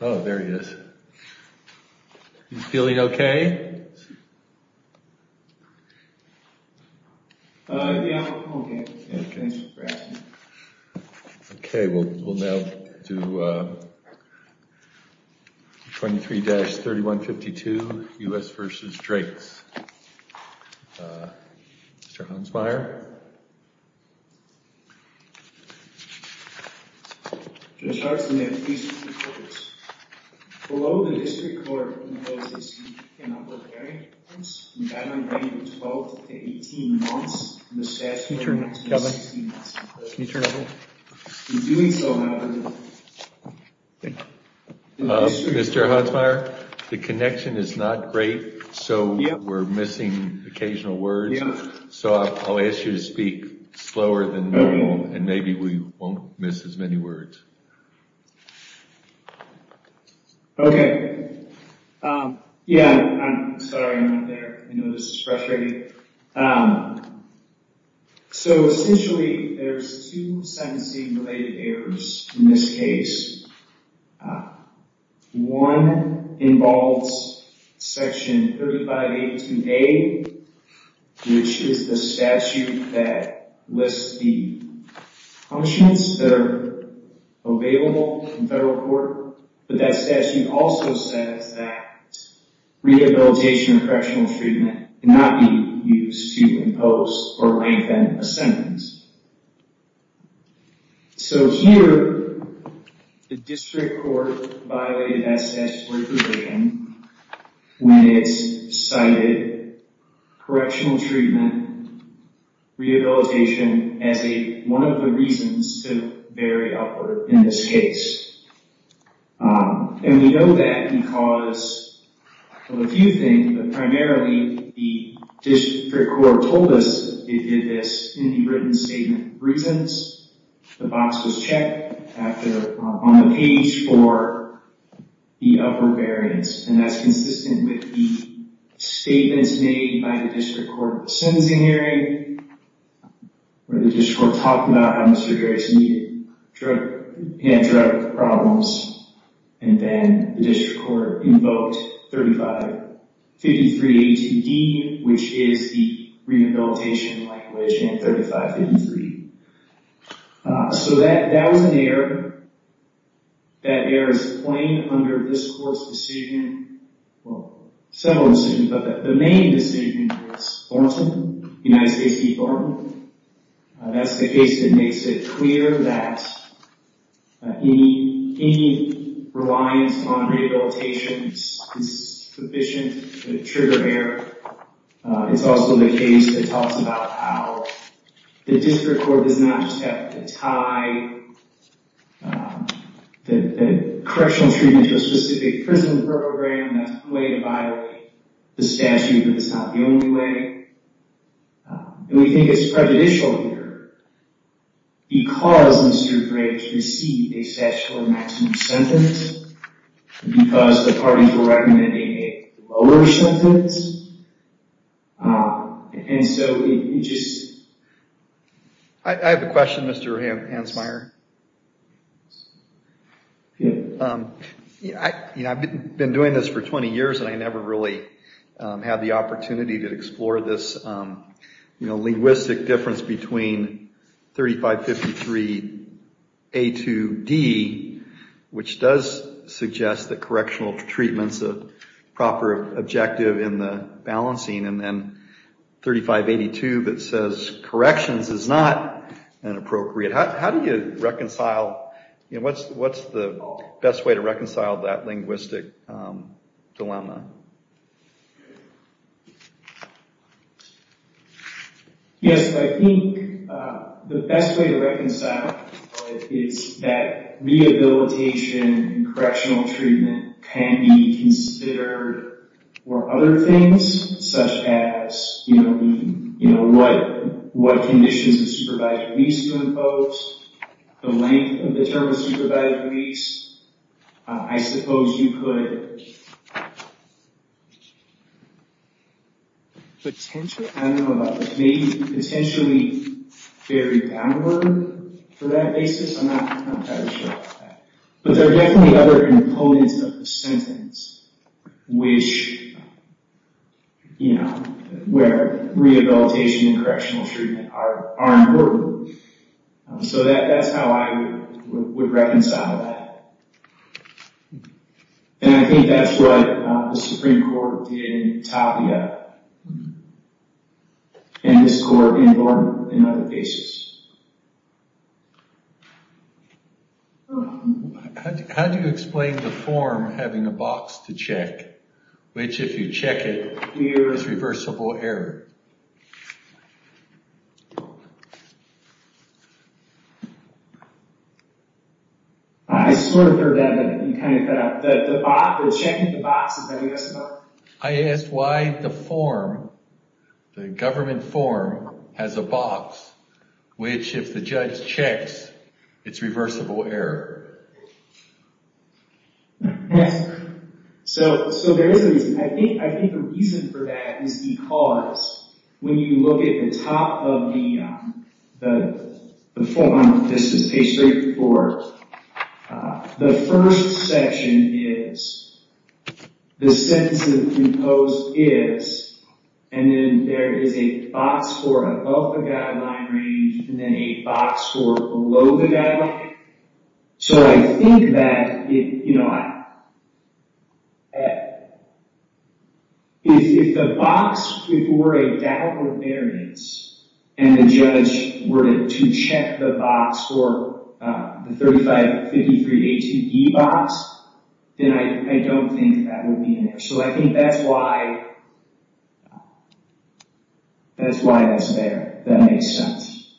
Oh, there he is. He's feeling okay? Okay, we'll now do 23-3152, U.S. versus Drake's. Mr. Hunsmeier? Mr. Hunsmeier, the connection is not great, so we're missing occasional words, so I'll ask you to speak slower than normal, and maybe we won't miss as many words. Okay. Yeah, I'm sorry. I know this is frustrating. So, essentially, there's two sentencing-related errors in this case. One involves Section 3582A, which is the statute that lists the punishments that are available in federal court, but that statute also says that rehabilitation or correctional treatment cannot be used to impose or lengthen a sentence. So here, the district court violated that statute's word provision when it's cited correctional treatment, rehabilitation, as one of the reasons to vary upward in this case. And we know that because, well, a few things, but primarily, the district court told us it did this in the written statement. For instance, the box was checked on the page for the upper variance, and that's consistent with the statements made by the district court in the sentencing hearing, where the district court talked about how Mr. Grayson had drug problems, and then the district court invoked 3553A2D, which is the rehabilitation language in 3553. So that was an error. That error is plain under this court's decision, well, several decisions, but the main decision was Thornton, United States v. Thornton. That's the case that makes it clear that any reliance on rehabilitation is sufficient to trigger error. It's also the case that talks about how the district court does not just have to tie the correctional treatment into a specific prison program. That's one way to violate the statute, but it's not the only way. And we think it's prejudicial here because Mr. Gray received a statutory maximum sentence, because the parties were recommending a lower sentence, and so it just— I have a question, Mr. Hansmeier. I've been doing this for 20 years, and I never really had the opportunity to explore this linguistic difference between 3553A2D, which does suggest that correctional treatment's a proper objective in the balancing, and then 3582 that says corrections is not inappropriate. How do you reconcile—what's the best way to reconcile that linguistic dilemma? Yes, I think the best way to reconcile it is that rehabilitation and correctional treatment can be considered for other things, such as what conditions of supervised release to impose, the length of the term of supervised release. I suppose you could— Potentially? I don't know about that. Maybe potentially vary downward for that basis. I'm not entirely sure about that. But there are definitely other components of the sentence where rehabilitation and correctional treatment are important. So that's how I would reconcile that. And I think that's what the Supreme Court did in Tapia and this court in Vaughan in other cases. How do you explain the form having a box to check, which if you check it, there is reversible error? I smirked for a minute and kind of thought that checking the box is reversible. I asked why the form, the government form, has a box, which if the judge checks, it's reversible error. So there is a reason. I think the reason for that is because when you look at the top of the form, this is page 34, the first section is the sentence that is imposed is, and then there is a box for above the guideline range, and then a box for below the guideline. So I think that, you know, if the box were a downward variance and the judge were to check the box or the 3553A2B box, then I don't think that would be in there. So I think that's why that's there. That makes sense.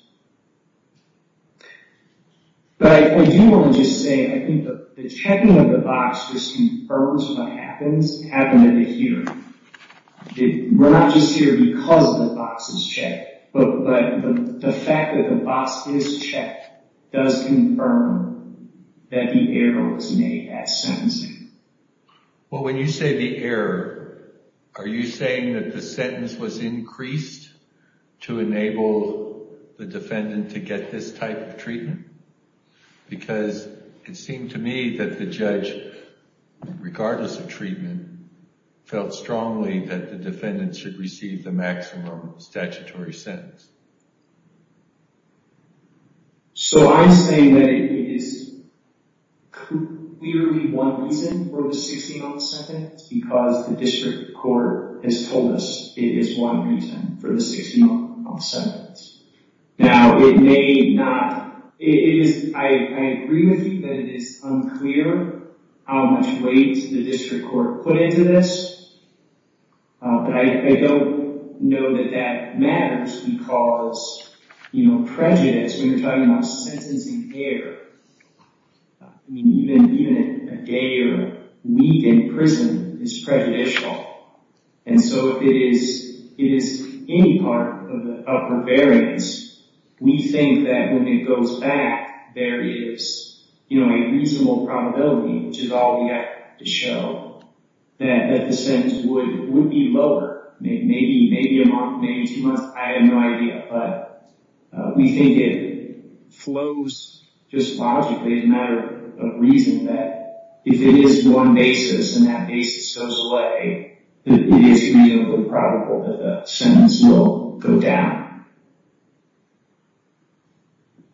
But I do want to just say, I think the checking of the box just confirms what happens at the hearing. We're not just here because the box is checked, but the fact that the box is checked does confirm that the error was made at sentencing. Well, when you say the error, are you saying that the sentence was increased to enable the defendant to get this type of treatment? Because it seemed to me that the judge, regardless of treatment, felt strongly that the defendant should receive the maximum statutory sentence. So I'm saying that it is clearly one reason for the 60-month sentence because the district court has told us it is one reason for the 60-month sentence. Now, it may not, it is, I agree with you that it is unclear how much weight the district court put into this, but I don't know that that matters because, you know, prejudice, when you're talking about sentencing error, I mean, even a day or a week in prison is prejudicial, and so if it is any part of the upper variance, we think that when it goes back, there is, you know, a reasonable probability, which is all we got to show, that the sentence would be lower, maybe a month, maybe two months, I have no idea, but we think it flows just logically as a matter of reason that if it is one basis and that basis goes away, that it is reasonably probable that the sentence will go down.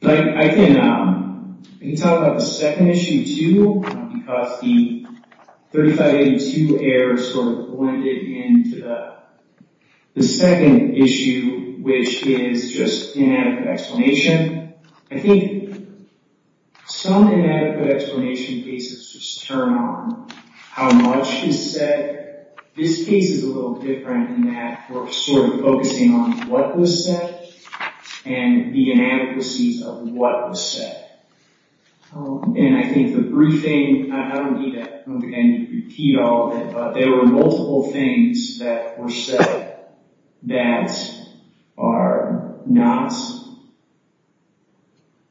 I can talk about the second issue, too, because the 3582 error sort of blended into the second issue, which is just inadequate explanation. I think some inadequate explanation cases just turn on how much is said. This case is a little different in that we're sort of focusing on what was said and the inadequacies of what was said, and I think the briefing, I don't need to repeat all of it, but there were multiple things that were said that are not,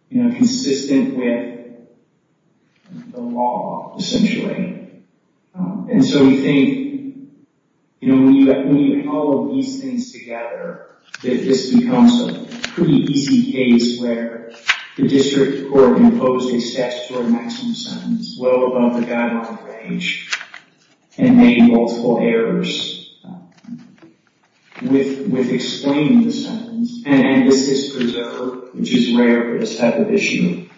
you know, consistent with the law, essentially, and so we think, you know, when you have all of these things together, that this becomes a pretty easy case where the district court imposed a statutory maximum sentence well above the guideline range and made multiple errors with explaining the sentence, and this is preserved, which is rare for this type of issue,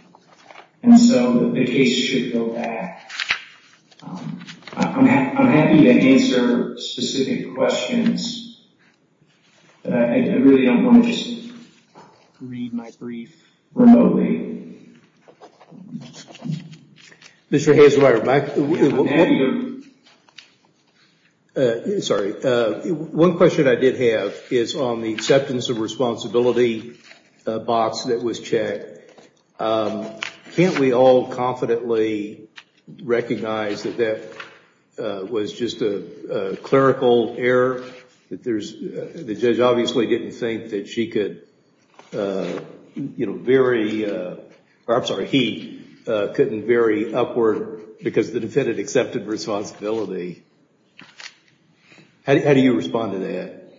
and so the case should go back. I'm happy to answer specific questions, but I really don't want to just read my brief remotely. Mr. Hazelwire, one question I did have is on the acceptance of responsibility box that was checked. Can't we all confidently recognize that that was just a clerical error? The judge obviously didn't think that she could, you know, vary, or I'm sorry, he couldn't vary upward because the defendant accepted responsibility. How do you respond to that?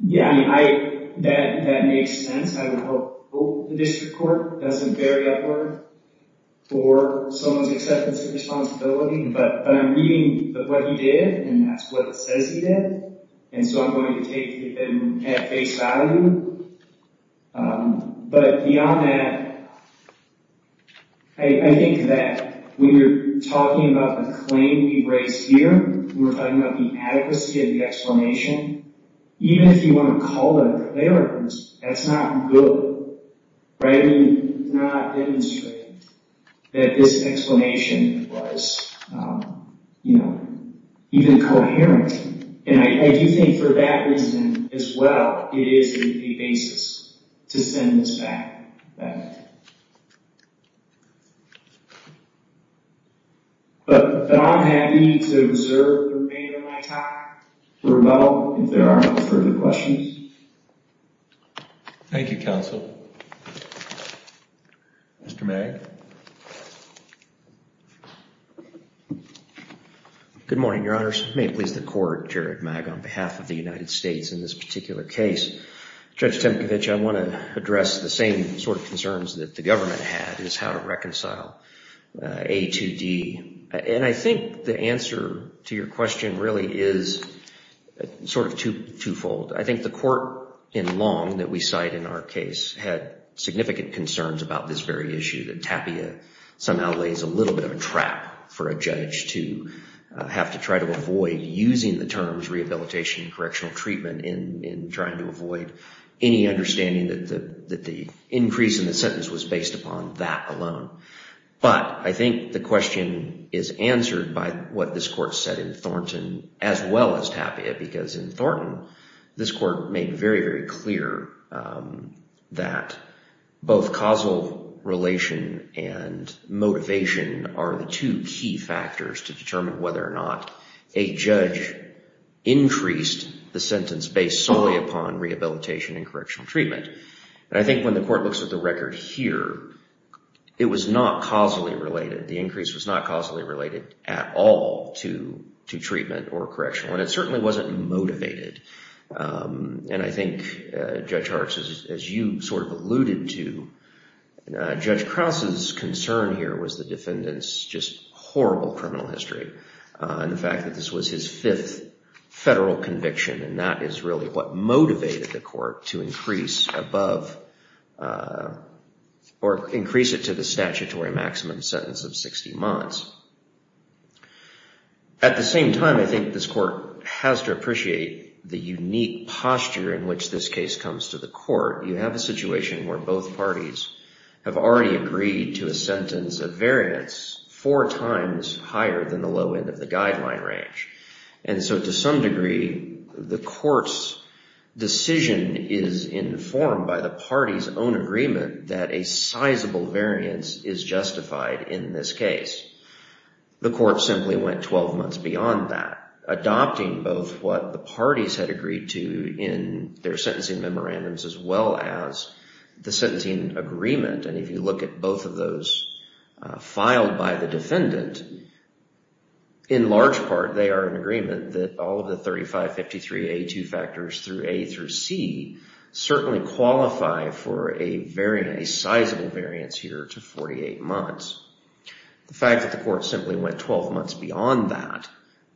Yeah, that makes sense. I would hope the district court doesn't vary upward for someone's acceptance of responsibility, but I'm reading what he did, and that's what it says he did, and so I'm going to take it at face value, but beyond that, I think that when you're talking about the claim he raised here, when we're talking about the adequacy of the explanation, even if you want to call that a clerical error, that's not good, right? You did not demonstrate that this explanation was, you know, even coherent, and I do think for that reason as well, it is a basis to send this back. But I'm happy to reserve the remainder of my time for rebuttal if there are no further questions. Thank you, counsel. Mr. Magg. Good morning, Your Honors. May it please the Court, Jared Magg, on behalf of the United States in this particular case. Judge Temkevich, I want to address the same sort of concerns that the government had is how to reconcile A to D, and I think the answer to your question really is sort of twofold. I think the court in Long that we cite in our case had significant concerns about this very issue, that Tapia somehow lays a little bit of a trap for a judge to have to try to avoid using the terms rehabilitation and correctional treatment in trying to avoid any understanding that the increase in the sentence was based upon that alone. But I think the question is answered by what this court said in Thornton as well as Tapia, because in Thornton, this court made very, very clear that both causal relation and motivation are the two key factors to determine whether or not a judge increased the sentence based solely upon rehabilitation and correctional treatment. And I think when the court looks at the record here, it was not causally related. The increase was not causally related at all to treatment or correctional, and it certainly wasn't motivated. And I think, Judge Hartz, as you sort of alluded to, Judge Krause's concern here was the defendant's just horrible criminal history, and the fact that this was his fifth federal conviction, and that is really what motivated the court to increase above or increase it to the statutory maximum sentence of 60 months. At the same time, I think this court has to appreciate the unique posture in which this case comes to the court. You have a situation where both parties have already agreed to a sentence of variance four times higher than the low end of the guideline range. And so to some degree, the court's decision is informed by the party's own agreement that a sizable variance is justified in this case. The court simply went 12 months beyond that, adopting both what the parties had agreed to in their sentencing memorandums as well as the sentencing agreement. And if you look at both of those filed by the defendant, in large part, they are in agreement that all of the 3553A2 factors through A through C certainly qualify for a sizable variance here to 48 months. The fact that the court simply went 12 months beyond that,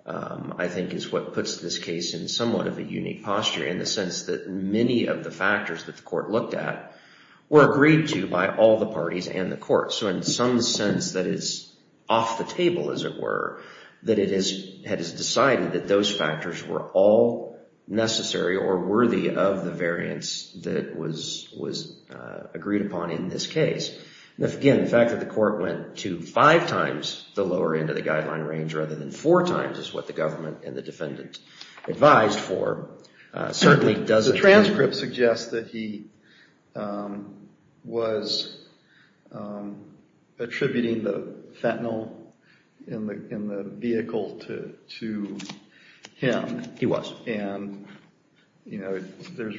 I think, is what puts this case in somewhat of a unique posture in the sense that many of the factors that the court looked at were agreed to by all the parties and the court. So in some sense, that is off the table, as it were, that it is decided that those factors were all necessary or worthy of the variance that was agreed upon in this case. Again, the fact that the court went to five times the lower end of the guideline range rather than four times is what the government and the defendant advised for. The transcript suggests that he was attributing the fentanyl in the vehicle to him. He was. And there's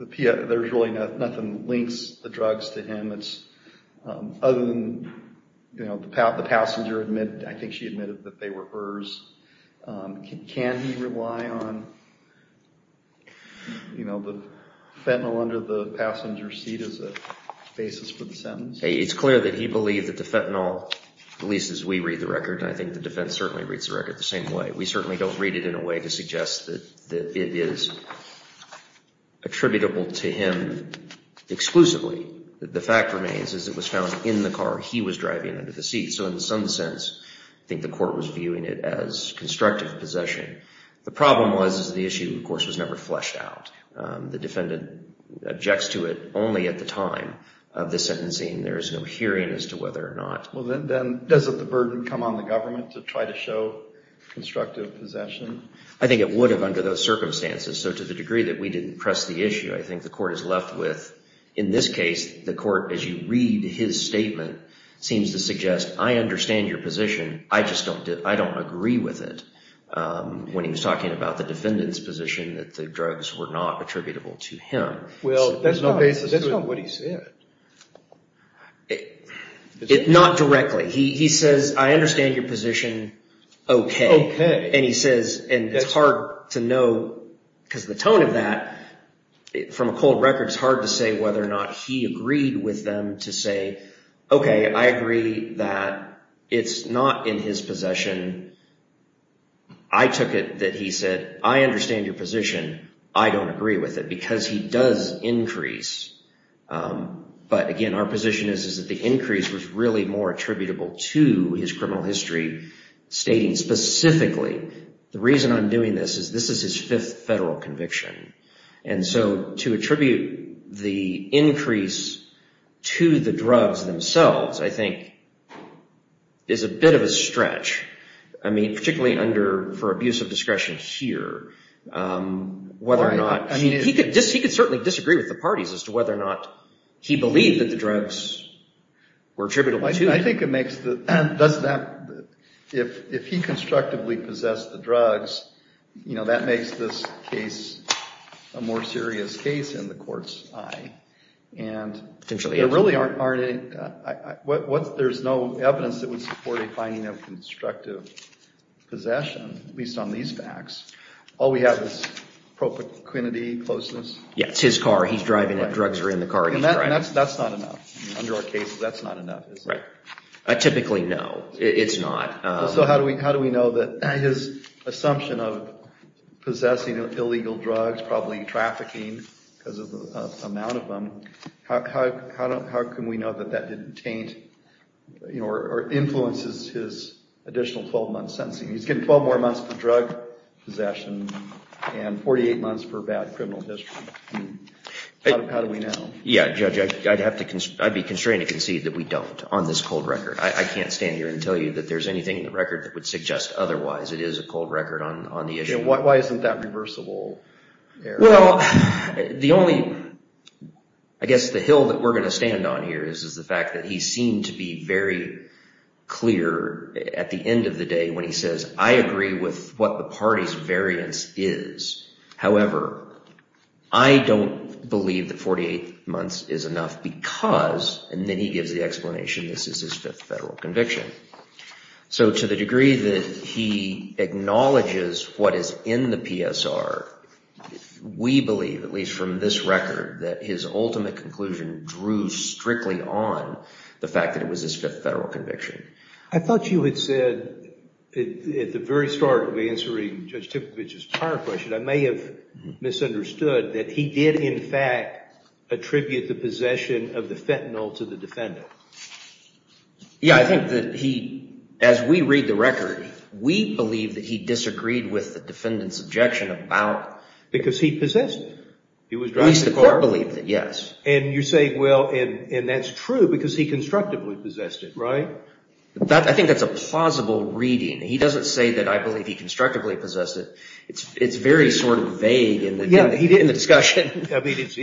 really nothing that links the drugs to him other than the passenger admitted, I think she admitted, that they were hers. Can he rely on the fentanyl under the passenger's seat as a basis for the sentence? It's clear that he believed that the fentanyl, at least as we read the record, and I think the defense certainly reads the record the same way, but we certainly don't read it in a way to suggest that it is attributable to him exclusively. The fact remains is it was found in the car he was driving under the seat. So in some sense, I think the court was viewing it as constructive possession. The problem was the issue, of course, was never fleshed out. The defendant objects to it only at the time of the sentencing. There is no hearing as to whether or not. Well, then doesn't the burden come on the government to try to show constructive possession? I think it would have under those circumstances. So to the degree that we didn't press the issue, I think the court is left with, in this case, the court, as you read his statement, seems to suggest, I understand your position, I just don't agree with it. When he was talking about the defendant's position that the drugs were not attributable to him. Well, that's not what he said. Not directly. He says, I understand your position, OK. And he says, and it's hard to know because the tone of that, from a cold record, it's hard to say whether or not he agreed with them to say, OK, I agree that it's not in his possession. I took it that he said, I understand your position, I don't agree with it because he does increase. But again, our position is that the increase was really more attributable to his criminal history, stating specifically, the reason I'm doing this is this is his fifth federal conviction. And so to attribute the increase to the drugs themselves, I think, is a bit of a stretch. I mean, particularly for abuse of discretion here. He could certainly disagree with the parties as to whether or not he believed that the drugs were attributable to him. I think it makes the, if he constructively possessed the drugs, that makes this case a more serious case in the court's eye. There's no evidence that would support a finding of constructive possession, at least on these facts. All we have is pro paquinity, closeness. Yeah, it's his car, he's driving it, drugs are in the car. And that's not enough. Under our case, that's not enough. Typically, no, it's not. So how do we know that his assumption of possessing illegal drugs, probably trafficking, because of the amount of them, how can we know that that didn't influence his additional 12 months sentencing? He's getting 12 more months for drug possession and 48 months for bad criminal history. How do we know? Yeah, Judge, I'd be constrained to concede that we don't on this cold record. I can't stand here and tell you that there's anything in the record that would suggest otherwise. It is a cold record on the issue. Why isn't that reversible? Well, I guess the hill that we're going to stand on here is the fact that he seemed to be very clear at the end of the day. When he says, I agree with what the party's variance is. However, I don't believe that 48 months is enough because, and then he gives the explanation, this is his fifth federal conviction. So to the degree that he acknowledges what is in the PSR, we believe, at least from this record, that his ultimate conclusion drew strictly on the fact that it was his fifth federal conviction. I thought you had said at the very start of answering Judge Tipovich's prior question, I may have misunderstood that he did in fact attribute the possession of the fentanyl to the defendant. Yeah, I think that he, as we read the record, we believe that he disagreed with the defendant's objection about... Because he possessed it. At least the court believed it, yes. And you're saying, well, and that's true because he constructively possessed it, right? I think that's a plausible reading. He doesn't say that I believe he constructively possessed it. It's very sort of vague in the discussion. I mean, if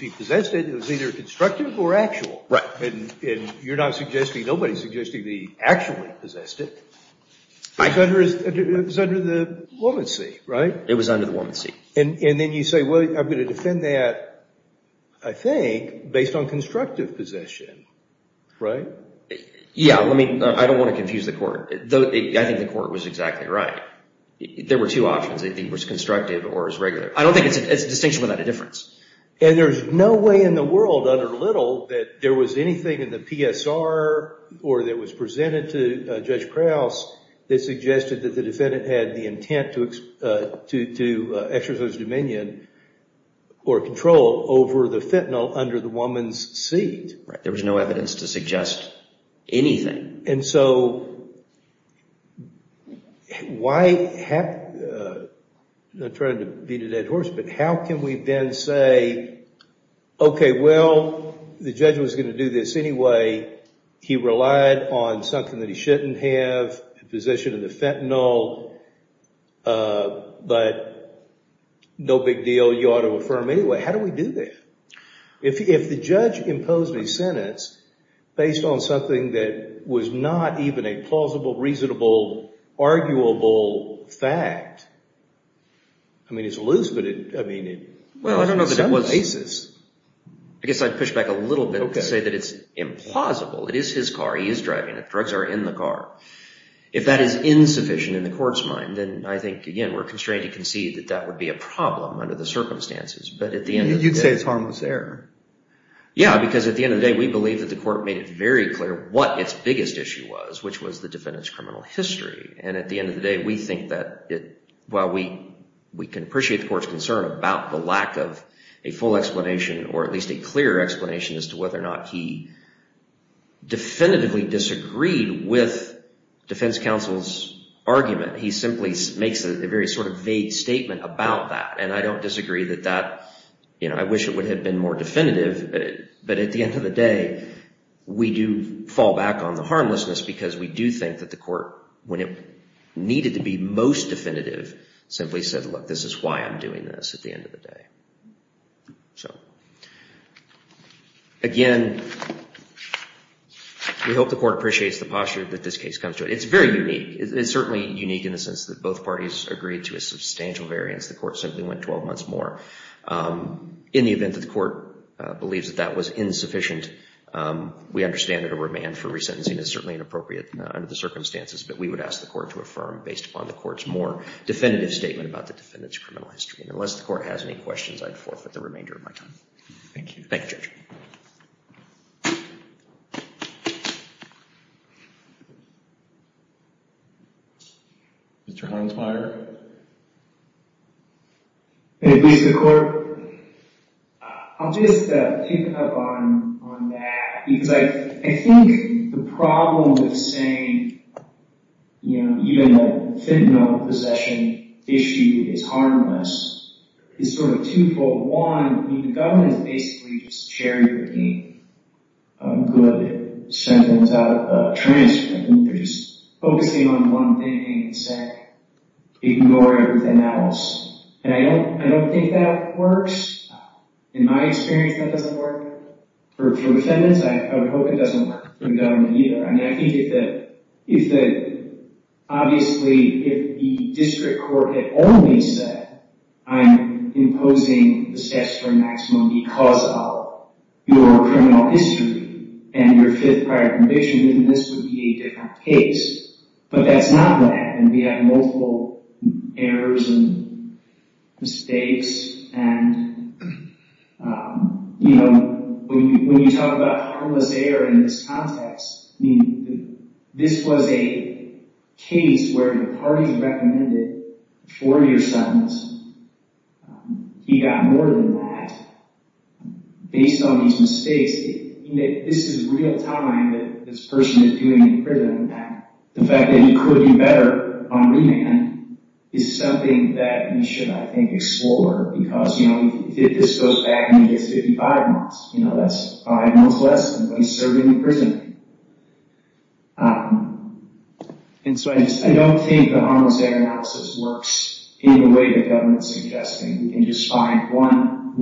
he possessed it, it was either constructive or actual. Right. And you're not suggesting, nobody's suggesting that he actually possessed it. It was under the woman's seat, right? It was under the woman's seat. And then you say, well, I'm going to defend that, I think, based on constructive possession, right? Yeah, I don't want to confuse the court. I think the court was exactly right. There were two options. I think it was constructive or it was regular. I don't think it's a distinction without a difference. And there's no way in the world, under Little, that there was anything in the PSR or that was presented to Judge Krause that suggested that the defendant had the intent to exercise dominion or control over the fentanyl under the woman's seat. Right, there was no evidence to suggest anything. And so, why have... I'm not trying to beat a dead horse, but how can we then say, okay, well, the judge was going to do this anyway. He relied on something that he shouldn't have, a possession of the fentanyl, but no big deal, you ought to affirm anyway. How do we do that? If the judge imposed a sentence based on something that was not even a plausible, reasonable, arguable fact, I mean, it's loose, but in some cases... I guess I'd push back a little bit and say that it's implausible. It is his car. He is driving it. The drugs are in the car. If that is insufficient in the court's mind, then I think, again, we're constrained to concede that that would be a problem under the circumstances. But at the end of the day... You'd say it's harmless error. Yeah, because at the end of the day, we believe that the court made it very clear what its biggest issue was, which was the defendant's criminal history. And at the end of the day, we think that it... Well, we can appreciate the court's concern about the lack of a full explanation or at least a clear explanation as to whether or not he definitively disagreed with defense counsel's argument. He simply makes a very sort of vague statement about that. And I don't disagree that that... It's not definitive, but at the end of the day, we do fall back on the harmlessness because we do think that the court, when it needed to be most definitive, simply said, look, this is why I'm doing this at the end of the day. Again, we hope the court appreciates the posture that this case comes to. It's very unique. It's certainly unique in the sense that both parties agreed to a substantial variance. The court simply went 12 months more. In the event that the court believes that that was insufficient, we understand that a remand for resentencing is certainly inappropriate under the circumstances, but we would ask the court to affirm based upon the court's more definitive statement about the defendant's criminal history. And unless the court has any questions, I'd forfeit the remainder of my time. Thank you. Thank you, Judge. Mr. Harnsmeyer? At least the court? I'll just pick up on that because I think the problem with saying even a fentanyl possession issue is harmless is sort of two-fold. One, the government is basically just charioting a good sentence out of a transcript, and they're just focusing on one thing and saying, ignore everything else. And I don't think that works. In my experience, that doesn't work. For defendants, I would hope it doesn't work for the government either. I mean, I think if the, obviously, if the district court had only said, I'm imposing the steps for maximum because of your criminal history and your fifth prior conviction, then this would be a half case. But that's not what happened. We had multiple errors and mistakes, and you know, when you talk about harmless error in this context, I mean, this was a case where the parties recommended a four-year sentence. He got more than that based on his mistakes. This is real time that this person is doing in prison. The fact that it could be better on remand is something that we should, I think, explore because, you know, if this goes back, maybe it's 55 months. You know, that's five months less than when he's serving in prison. And so I just, I don't think the harmless error analysis works in the way the government's suggesting. We can just find one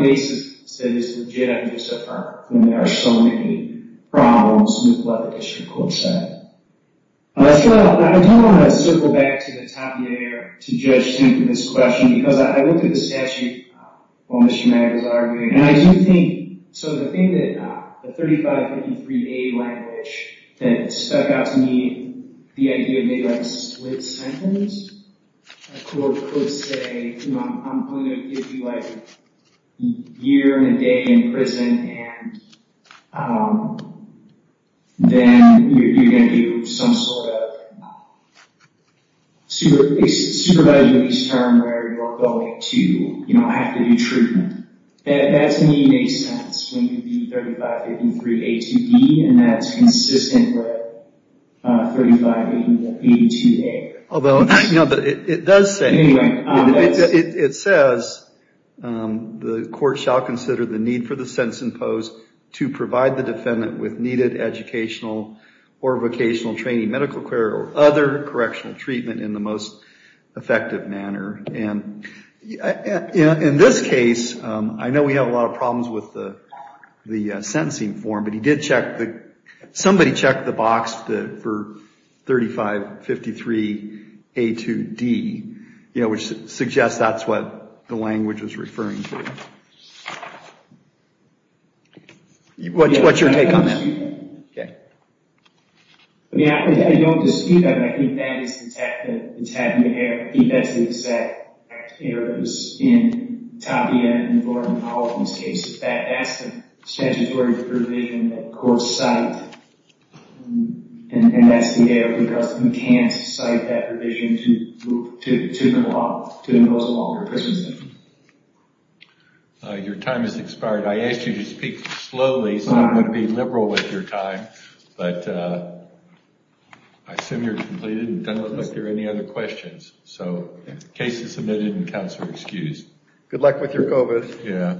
basis that is going to solve so many problems, and that's what the district court said. I don't want to circle back to the top here to judge Tim for this question because I looked at the statute while Mr. Maggard was arguing, and I do think, so the thing that the 3553A language that stuck out to me, the idea of maybe like a split sentence, a court could say, you know, I'm only going to give you like a year and a day in prison, and then you're going to do some sort of supervised release term where you are going to have to do treatment. That to me makes sense when you do 3553A2B and that's consistent with 3583A2A. Although, you know, it does say, it says the court shall consider the need for the sentence imposed to provide the defendant with needed educational or vocational training, medical care, or other correctional treatment in the most effective manner. And in this case, I know we have a lot of problems with the sentencing form, but he did check, somebody checked the box for 3553A2D, you know, which suggests that's what the language was referring to. What's your take on that? I mean, I don't dispute that, but I think that is the tabular error. I think that's the exact error in Tapia and Gordon Powell's case. In fact, that's the statutory provision that courts cite, and that's the error because you can't cite that provision to impose a longer prison sentence. Your time has expired. I asked you to speak slowly so I'm going to be liberal with your time, but I assume you're completed and done with this. Are there any other questions? Cases submitted and counts are excused. Good luck with your COVID. Yeah.